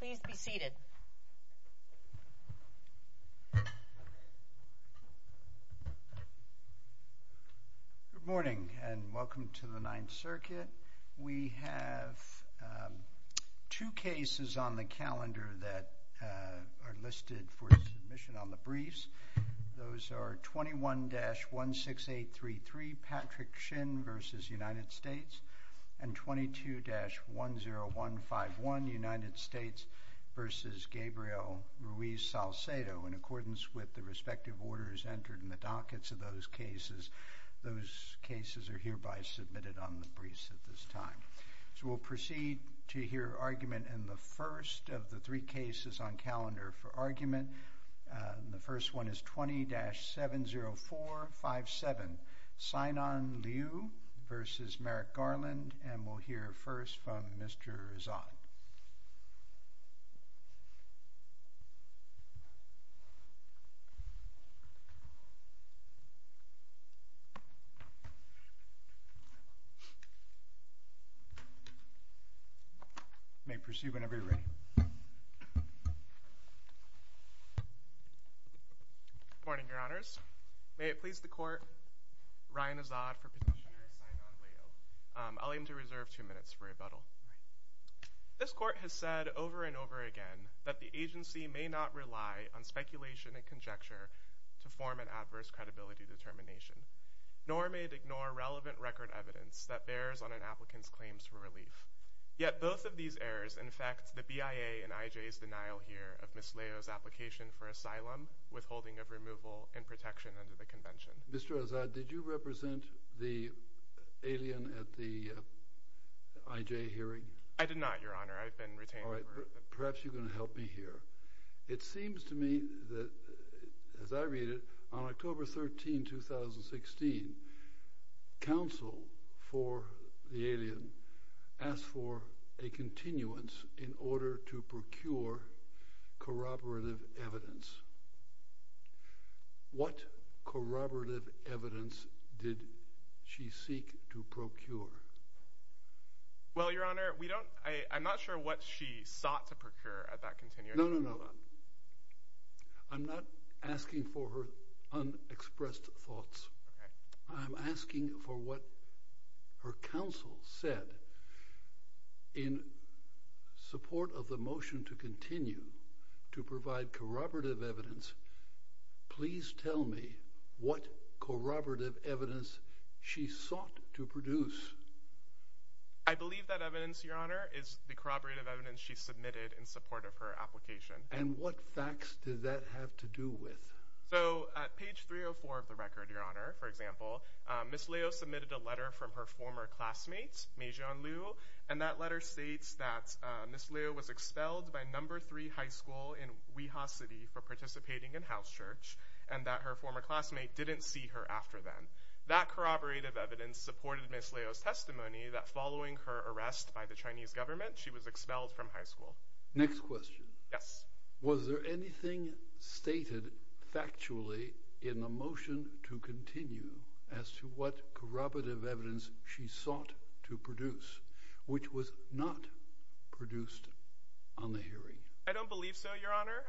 Good morning and welcome to the Ninth Circuit. We have two cases on the calendar that are listed for submission on the briefs. Those are 21-16833, Patrick Shin v. United States, and 22-10151, United States v. Gabriel Ruiz Salcedo. In accordance with the respective orders entered in the dockets of those cases, those cases are hereby submitted on the briefs at this time. So we'll proceed to hear argument in the first of the three cases on calendar for argument. The first one is 20-70457, Sainan Liu v. Merrick Garland, and we'll hear first from Mr. Zha. You may proceed whenever you're ready. Good morning, Your Honors. May it please the Court, Ryan Azad for petitioner Sainan Liu. I'll aim to reserve two minutes for rebuttal. This Court has said over and over again that the agency may not rely on speculation and conjecture to form an adverse credibility determination, nor may it ignore relevant record evidence that bears on an applicant's claims for relief. Yet both of these errors infect the BIA and IJ's denial here of Ms. Liu's application for asylum, withholding of removal, and protection under the Convention. Mr. Azad, did you represent the alien at the IJ hearing? I did not, Your Honor. I've been retained. All right. Perhaps you're going to help me here. It seems to me that, as I read it, on October 13, 2016, counsel for the alien asked for a continuance in order to procure corroborative evidence. What corroborative evidence did she seek to procure? Well, Your Honor, we don't—I'm not sure what she sought to procure at that continuance. No, no, no. I'm not asking for her unexpressed thoughts. I'm asking for what her counsel said in support of the motion to continue to provide corroborative evidence. Please tell me what corroborative evidence she sought to produce. I believe that evidence, Your Honor, is the corroborative evidence she submitted in support of her application. And what facts did that have to do with? So, at page 304 of the record, Your Honor, for example, Ms. Liu submitted a letter from her former classmate, Meijian Liu, and that letter states that Ms. Liu was expelled by No. 3 High School in Weha City for participating in house church, and that her former classmate didn't see her after then. That corroborative evidence supported Ms. Liu's testimony that, following her arrest by the Chinese government, she was expelled from high school. Next question. Yes. Was there anything stated factually in the motion to continue as to what corroborative evidence she sought to produce, which was not produced on the hearing? I don't believe so, Your Honor.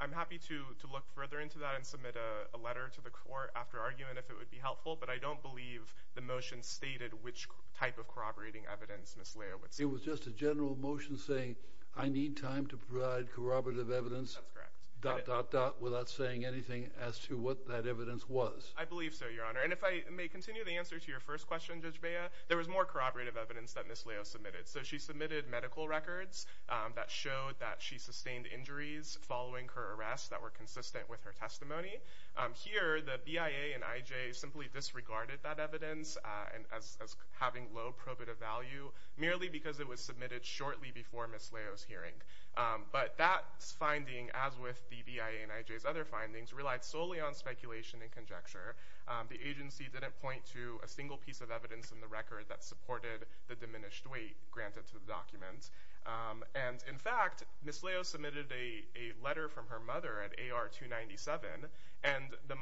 I'm happy to look further into that and submit a letter to the court after argument if it would be helpful, but I don't believe the motion stated which type of corroborating evidence Ms. Liu would seek. It was just a general motion saying, I need time to provide corroborative evidence, dot dot dot, without saying anything as to what that evidence was. I believe so, Your Honor. And if I may continue the answer to your first question, Judge Bea, there was more corroborative evidence that Ms. Liu submitted. So, she submitted medical records that showed that she sustained injuries following her arrest that were consistent with her testimony. Here, the BIA and IJ simply disregarded that evidence as having low probative value merely because it was submitted shortly before Ms. Liu's hearing. But that finding, as with the BIA and IJ's other findings, relied solely on speculation and conjecture. The agency didn't point to a single piece of evidence in the record that supported the diminished weight granted to the document. And, in fact, Ms. Liu submitted a letter from her mother at AR-297, and the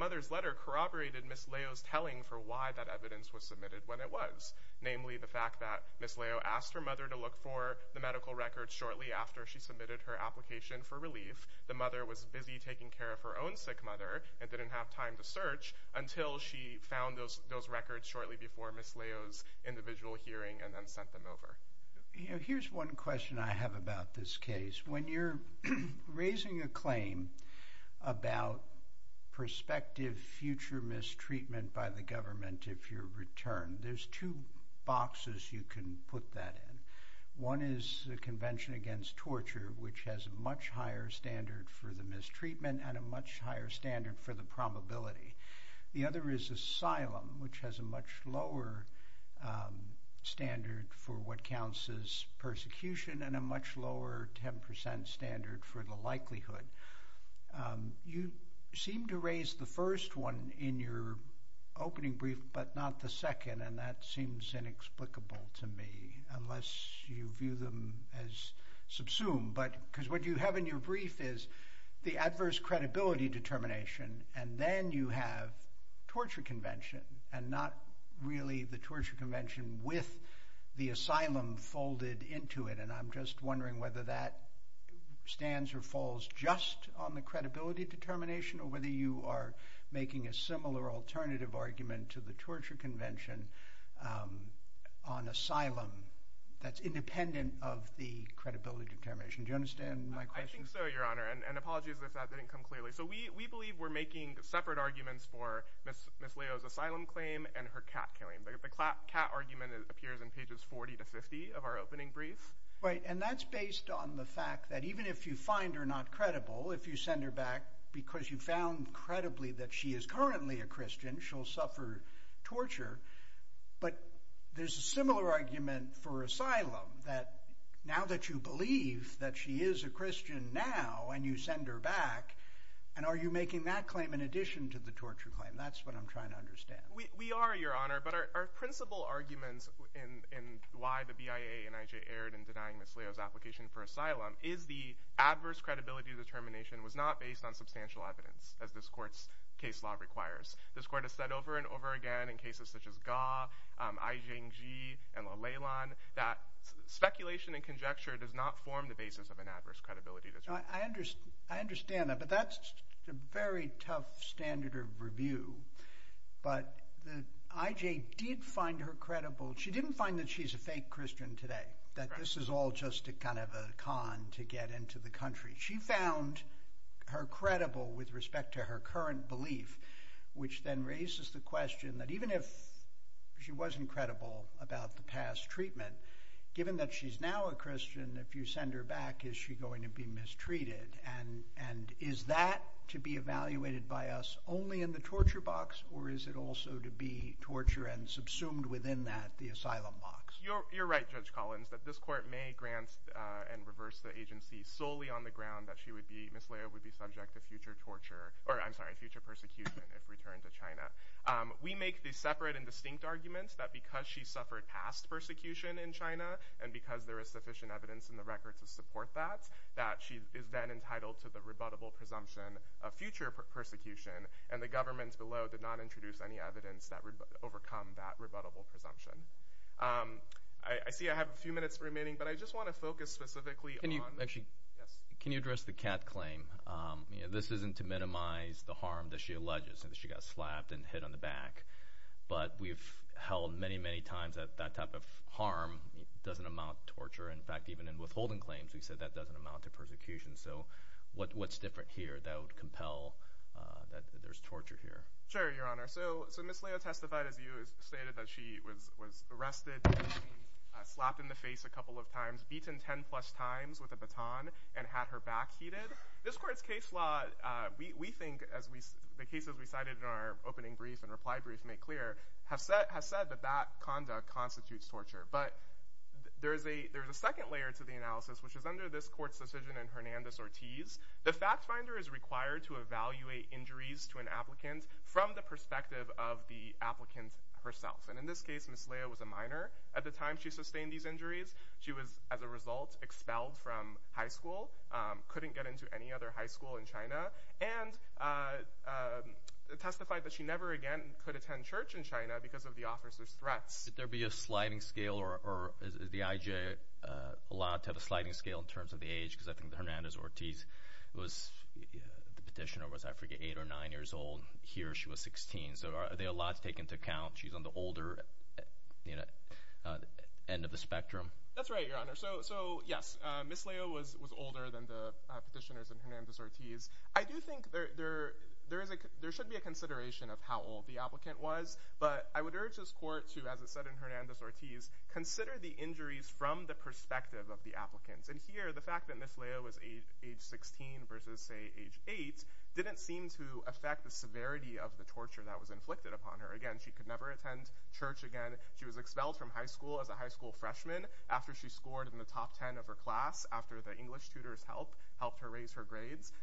mother's letter corroborated Ms. Liu's telling for why that evidence was submitted when it was. Namely, the fact that Ms. Liu asked her mother to look for the medical records shortly after she submitted her application for relief. The mother was busy taking care of her own sick mother and didn't have time to search until she found those records shortly before Ms. Liu's individual hearing and then sent them over. You know, here's one question I have about this case. When you're raising a claim about prospective future mistreatment by the government if you're returned, there's two boxes you can put that in. One is the Convention Against Torture, which has a much higher standard for the mistreatment and a much higher standard for the probability. The other is asylum, which has a much lower standard for what counts as persecution and a much lower 10% standard for the likelihood. You seem to raise the first one in your opening brief but not the second, and that seems inexplicable to me, unless you view them as subsumed. Because what you have in your brief is the adverse credibility determination, and then you have torture convention, and not really the torture convention with the asylum folded into it. And I'm just wondering whether that stands or falls just on the credibility determination or whether you are making a similar alternative argument to the torture convention on asylum that's independent of the credibility determination. Do you understand my question? I think so, Your Honor. And apologies if that didn't come clearly. So we believe we're making separate arguments for Ms. Liu's asylum claim and her cat killing. The cat argument appears in pages 40 to 50 of our opening brief. Right. And that's based on the fact that even if you find her not credible, if you send her back because you found credibly that she is currently a Christian, she'll suffer torture. But there's a similar argument for asylum that now that you believe that she is a Christian now and you send her back, and are you making that claim in addition to the torture claim? That's what I'm trying to understand. We are, Your Honor. But our principal arguments in why the BIA and IJ erred in denying Ms. Liu's application for asylum is the adverse credibility determination was not based on substantial evidence, as this court's case law requires. This court has said over and over again in cases such as Ga, Ai Zhengji, and Leilan that speculation and conjecture does not form the basis of an adverse credibility determination. I understand that. But that's a very tough standard of review. But the IJ did find her credible. She didn't find that she's a fake Christian today, that this is all just a kind of a con to get into the country. She found her credible with respect to her current belief, which then raises the question that even if she wasn't credible about the past treatment, given that she's now a Christian, if you send her back, is she going to be mistreated? Is that to be evaluated by us only in the torture box, or is it also to be torture and subsumed within that, the asylum box? You're right, Judge Collins, that this court may grant and reverse the agency solely on the ground that Ms. Liu would be subject to future torture, or I'm sorry, future persecution if returned to China. We make these separate and distinct arguments that because she suffered past persecution in China, and because there is sufficient evidence in the record to support that, that she is then entitled to the rebuttable presumption of future persecution, and the government below did not introduce any evidence that would overcome that rebuttable presumption. I see I have a few minutes remaining, but I just want to focus specifically on – Can you address the Kat claim? This isn't to minimize the harm that she alleges, that she got slapped and hit on the arm doesn't amount to torture. In fact, even in withholding claims, we said that doesn't amount to persecution. So what's different here that would compel that there's torture here? Sure, Your Honor. So Ms. Liu testified, as you stated, that she was arrested, slapped in the face a couple of times, beaten 10-plus times with a baton, and had her back heated. This court's case law, we think, as the cases we cited in our opening brief and reply brief make clear, has said that that conduct constitutes torture. But there is a second layer to the analysis, which is under this court's decision in Hernandez-Ortiz, the fact finder is required to evaluate injuries to an applicant from the perspective of the applicant herself. And in this case, Ms. Liu was a minor. At the time she sustained these injuries, she was, as a result, expelled from high school, couldn't get into any other high school in China, and testified that she never again could attend church in China because of the officer's threats. Could there be a sliding scale, or is the IJ allowed to have a sliding scale in terms of the age? Because I think that Hernandez-Ortiz was, the petitioner was, I forget, 8 or 9 years old. Here she was 16. So are they allowed to take into account she's on the older end of the spectrum? That's right, Your Honor. So, yes, Ms. Liu was older than the petitioners in Hernandez-Ortiz. I do think there should be a consideration of how old the applicant was, but I would urge this court to, as it said in Hernandez-Ortiz, consider the injuries from the perspective of the applicants. And here, the fact that Ms. Liu was age 16 versus, say, age 8, didn't seem to affect the severity of the torture that was inflicted upon her. Again, she could never attend church again. She was expelled from high school as a high school freshman after she scored in the top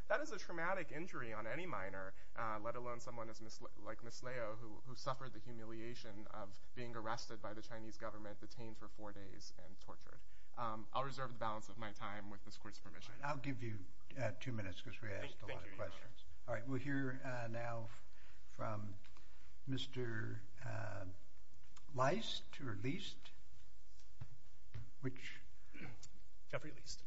That is a traumatic injury on any minor, let alone someone like Ms. Liu, who suffered the humiliation of being arrested by the Chinese government, detained for four days, and tortured. I'll reserve the balance of my time with this court's permission. I'll give you two minutes, because we asked a lot of questions. Thank you, Your Honor. All right, we'll hear now from Mr. Leist, or Leist? Jeffrey Leist.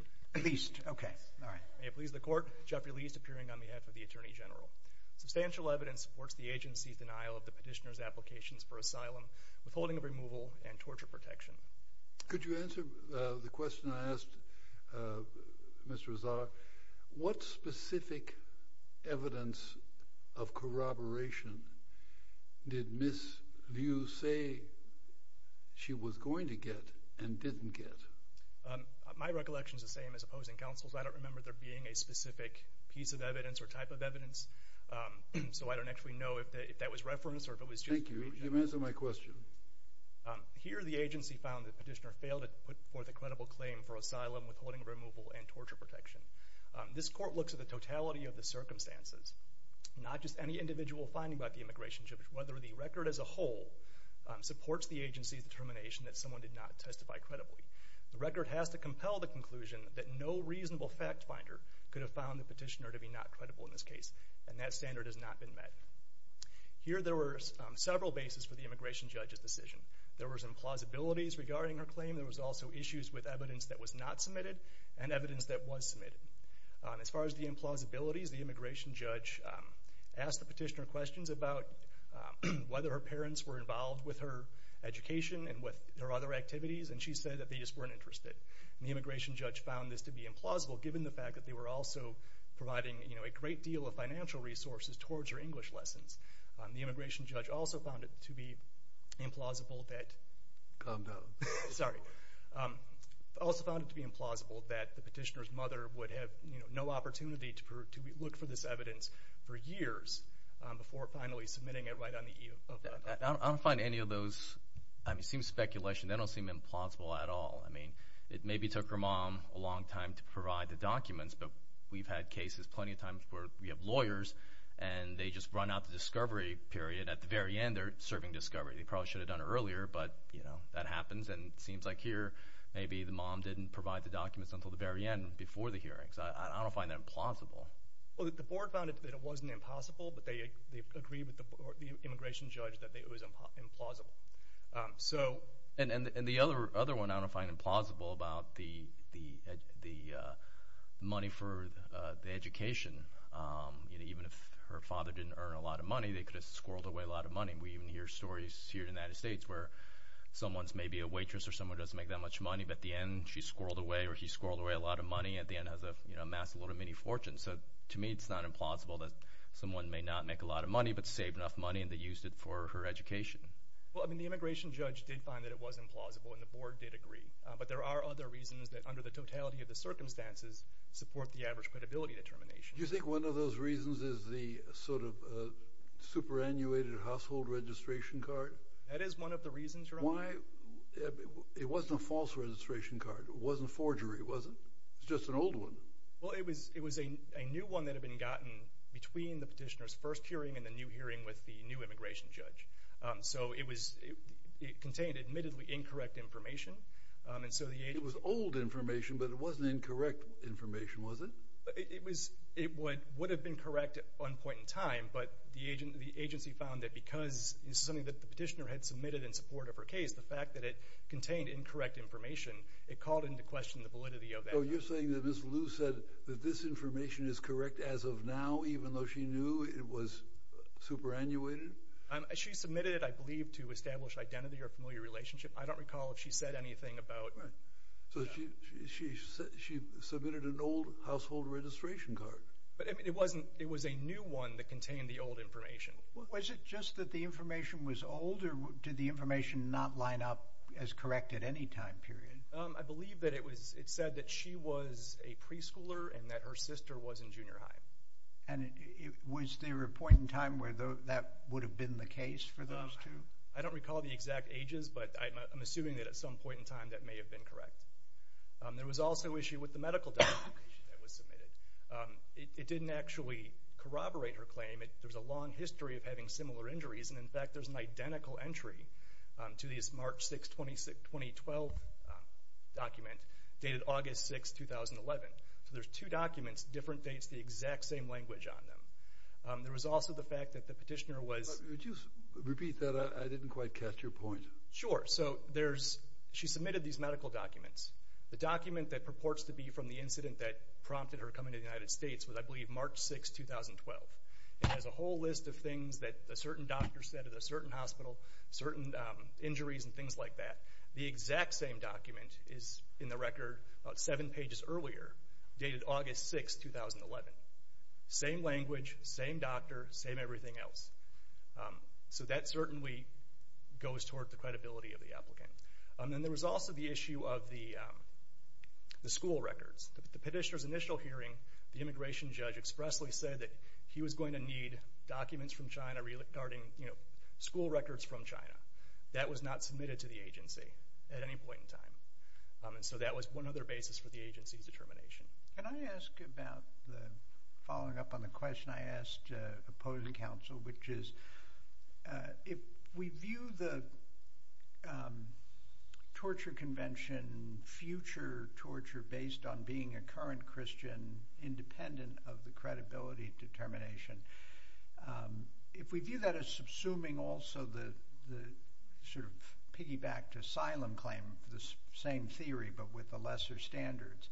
Leist, okay, all right. May it please the court, Jeffrey Leist, appearing on behalf of the Attorney General. Substantial evidence supports the agency's denial of the petitioner's applications for asylum, withholding of removal, and torture protection. Could you answer the question I asked Mr. Azar? What specific evidence of corroboration did Ms. Liu say she was going to get and didn't get? My recollection is the same as opposing counsel's. I don't remember there being a specific piece of evidence or type of evidence, so I don't actually know if that was reference or if it was just me. Thank you. You may answer my question. Here, the agency found the petitioner failed to put forth a credible claim for asylum, withholding of removal, and torture protection. This court looks at the totality of the circumstances, not just any individual finding about the immigration, but whether the record as a whole supports the agency's determination that someone did not testify credibly. The record has to compel the conclusion that no reasonable fact finder could have found the petitioner to be not credible in this case, and that standard has not been met. Here, there were several bases for the immigration judge's decision. There was implausibilities regarding her claim. There was also issues with evidence that was not submitted and evidence that was submitted. As far as the implausibilities, the immigration judge asked the petitioner questions about whether her parents were involved with her education and with her other activities, and she said that they just weren't interested. The immigration judge found this to be implausible, given the fact that they were also providing a great deal of financial resources towards her English lessons. The immigration judge also found it to be implausible that the petitioner's mother would have no opportunity to look for this evidence for years before finally submitting it right on the eve of her death. I don't find any of those – I mean, it seems speculation. They don't seem implausible at all. I mean, it maybe took her mom a long time to provide the documents, but we've had cases plenty of times where we have lawyers, and they just run out the discovery period. At the very end, they're serving discovery. They probably should have done it earlier, but, you know, that happens. And it seems like here, maybe the mom didn't provide the documents until the very end before the hearings. I don't find that implausible. Well, the board found that it wasn't impossible, but they agreed with the immigration judge that it was implausible. So – And the other one I don't find implausible about the money for the education. You know, even if her father didn't earn a lot of money, they could have squirreled away a lot of money. We even hear stories here in the United States where someone's maybe a waitress or someone doesn't make that much money, but at the end, she squirreled away or he squirreled away a lot of money. At the end, has amassed a lot of mini fortunes. So to me, it's not implausible that someone may not make a lot of money, but saved enough money, and they used it for her education. Well, I mean, the immigration judge did find that it was implausible, and the board did agree. But there are other reasons that, under the totality of the circumstances, support the average credibility determination. Do you think one of those reasons is the sort of superannuated household registration card? That is one of the reasons, Your Honor. Why – it wasn't a false registration card. It wasn't forgery, was it? It was just an old one. Well, it was a new one that had been gotten between the petitioner's first hearing and the new hearing with the new immigration judge. So, it contained admittedly incorrect information. It was old information, but it wasn't incorrect information, was it? It would have been correct at one point in time, but the agency found that because it was something that the petitioner had submitted in support of her case, the fact that it contained incorrect information, it called into question the validity of that information. So you're saying that Ms. Liu said that this information is correct as of now, even though she knew it was superannuated? She submitted it, I believe, to establish identity or familiar relationship. I don't recall if she said anything about – Right. So, she submitted an old household registration card. But it wasn't – it was a new one that contained the old information. Was it just that the information was old, or did the information not line up as correct at any time period? I believe that it said that she was a preschooler and that her sister was in junior high. And was there a point in time where that would have been the case for those two? I don't recall the exact ages, but I'm assuming that at some point in time that may have been correct. There was also an issue with the medical documentation that was submitted. It didn't actually corroborate her claim. There's a long history of having similar injuries, and in fact, there's an identical entry to this March 6, 2012 document dated August 6, 2011. So, there's two documents, different dates, the exact same language on them. There was also the fact that the petitioner was – Could you repeat that? I didn't quite catch your point. Sure. So, there's – she submitted these medical documents. The document that purports to be from the incident that prompted her coming to the United States was, I believe, March 6, 2012. It has a whole list of things that a certain doctor said at a certain hospital, certain injuries and things like that. The exact same document is in the record about seven pages earlier, dated August 6, 2011. Same language, same doctor, same everything else. So, that certainly goes toward the credibility of the applicant. And then there was also the issue of the school records. At the petitioner's initial hearing, the immigration judge expressly said that he was going to need documents from China regarding, you know, school records from China. That was not submitted to the agency at any point in time. So, that was one other basis for the agency's determination. Can I ask about the – following up on the question I asked opposing counsel, which is if we view the torture convention, future torture based on being a current Christian independent of the credibility determination, if we view that as subsuming also the sort of piggyback to asylum claim, the same theory but with the lesser standards,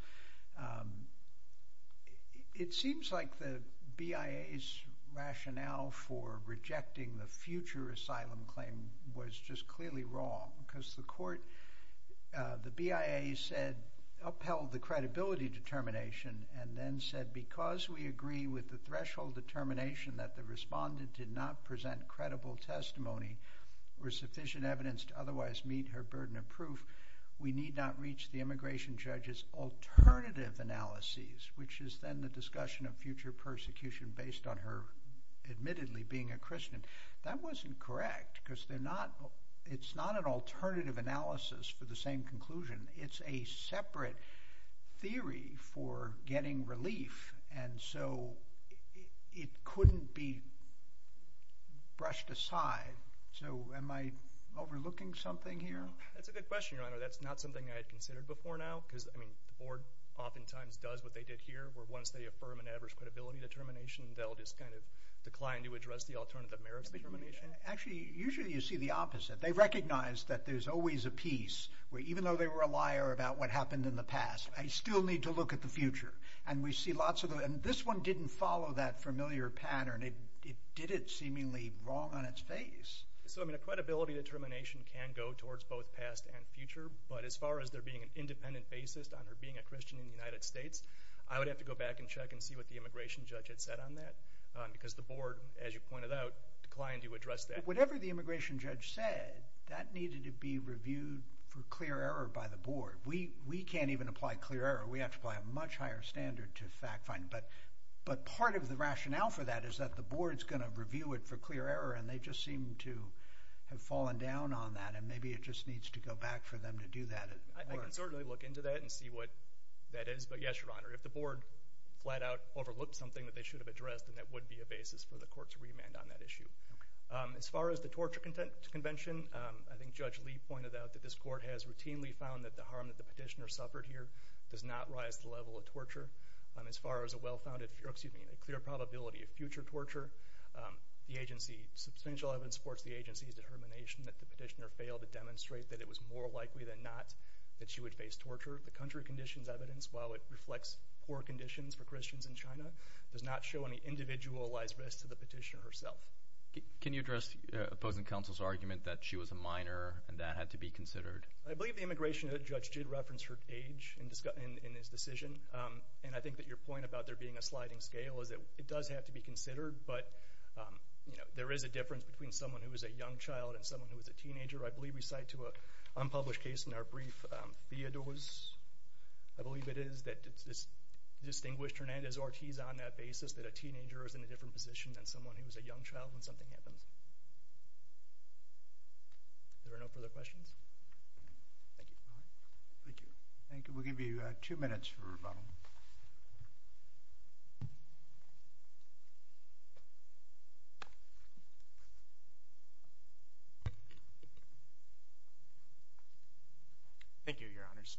it seems like the BIA's rationale for rejecting the future asylum claim was just clearly wrong because the court – the BIA said – upheld the credibility determination and then said because we agree with the threshold determination that the respondent did not present credible testimony or sufficient evidence to otherwise meet her burden of proof, we need not reach the immigration judge's alternative analyses, which is then the discussion of future persecution based on her, admittedly, being a Christian. That wasn't correct because they're not – it's not an alternative analysis for the same conclusion. It's a separate theory for getting relief and so it couldn't be brushed aside. So, am I overlooking something here? That's a good question, Your Honor. That's not something I had considered before now because, I mean, the Board oftentimes does what they did here where once they affirm an average credibility determination, they'll just kind of decline to address the alternative merits determination. Actually, usually you see the opposite. They recognize that there's always a piece where even though they were a liar about what happened in the past, I still need to look at the future. And we see lots of – and this one didn't follow that familiar pattern. It did it seemingly wrong on its face. So, I mean, a credibility determination can go towards both past and future, but as far as there being an independent basis on her being a Christian in the United States, I would have to go back and check and see what the immigration judge had said on that because the Board, as you pointed out, declined to address that. And whatever the immigration judge said, that needed to be reviewed for clear error by the Board. We can't even apply clear error. We have to apply a much higher standard to fact-finding. But part of the rationale for that is that the Board's going to review it for clear error, and they just seem to have fallen down on that, and maybe it just needs to go back for them to do that. I can certainly look into that and see what that is. But yes, Your Honor, if the Board flat-out overlooked something that they should have addressed, then that would be a basis for the Court to remand on that issue. As far as the torture convention, I think Judge Lee pointed out that this Court has routinely found that the harm that the petitioner suffered here does not rise to the level of torture. As far as a well-founded, excuse me, a clear probability of future torture, the agency's substantial evidence supports the agency's determination that the petitioner failed to demonstrate that it was more likely than not that she would face torture. The country conditions evidence, while it reflects poor conditions for Christians in China, does not show any individualized risk to the petitioner herself. Can you address opposing counsel's argument that she was a minor and that had to be considered? I believe the immigration judge did reference her age in his decision, and I think that your point about there being a sliding scale is that it does have to be considered, but there is a difference between someone who is a young child and someone who is a teenager. I believe we cite to an unpublished case in our brief, Theodore's, I believe it is, that distinguished Hernandez-Ortiz on that basis that a teenager is in a different position than someone who is a young child when something happens. Are there no further questions? Thank you. Thank you. We'll give you two minutes for rebuttal. Thank you, Your Honors.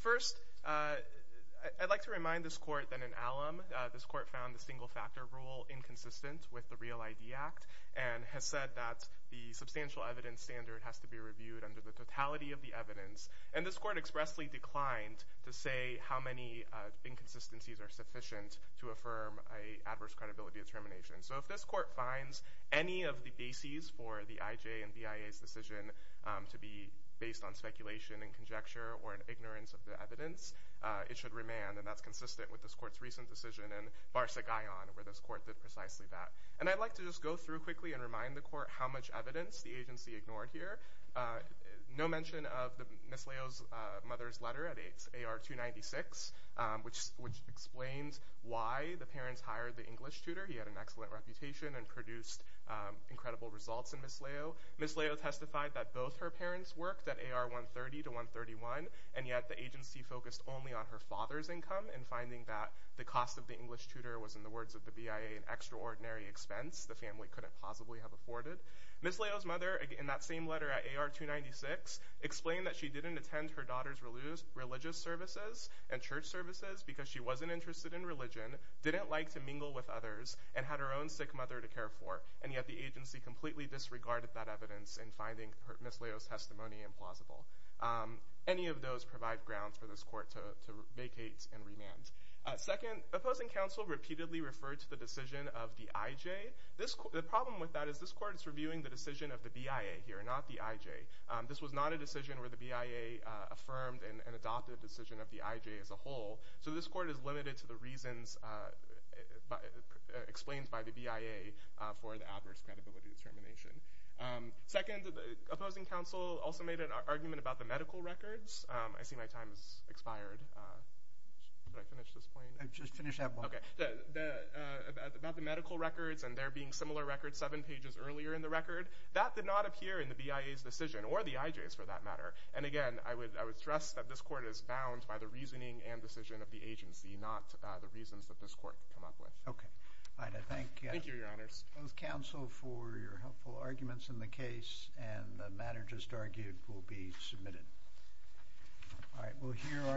First, I'd like to remind this court that in Allam, this court found the single factor rule inconsistent with the Real ID Act and has said that the substantial evidence standard has to be reviewed under the totality of the evidence. And this court expressly declined to say how many inconsistencies are sufficient to affirm an adverse credibility determination. So if this court finds any of the bases for the IJ and BIA's decision to be based on speculation and conjecture or an ignorance of the evidence, it should remand, and that's consistent with this court's recent decision in Barcegayan, where this court did precisely that. And I'd like to just go through quickly and remind the court how much evidence the agency ignored here. No mention of Ms. Leo's mother's letter at AR-296, which explains why the parents hired the English tutor. He had an excellent reputation and produced incredible results in Ms. Leo. Ms. Leo testified that both her parents worked at AR-130 to 131, and yet the agency focused only on her father's income in finding that the cost of the English tutor was, in the words of the BIA, an extraordinary expense the family couldn't possibly have afforded. Ms. Leo's mother, in that same letter at AR-296, explained that she didn't attend her daughter's religious services and church services because she wasn't interested in religion, didn't like to mingle with others, and had her own sick mother to care for, and yet the agency completely disregarded that evidence in finding Ms. Leo's testimony implausible. Any of those provide grounds for this court to vacate and remand. Second, opposing counsel repeatedly referred to the decision of the IJ. The problem with that is this court is reviewing the decision of the BIA here, not the IJ. This was not a decision where the BIA affirmed and adopted a decision of the IJ as a whole, so this court is limited to the reasons explained by the BIA for the adverse credibility determination. Second, opposing counsel also made an argument about the medical records. I see my time has expired. How did I finish this point? About the medical records and there being similar records seven pages earlier in the record, that did not appear in the BIA's decision, or the IJ's for that matter. And again, I would stress that this court is bound by the reasoning and decision of the agency, not the reasons that this court came up with. Thank you, Your Honors.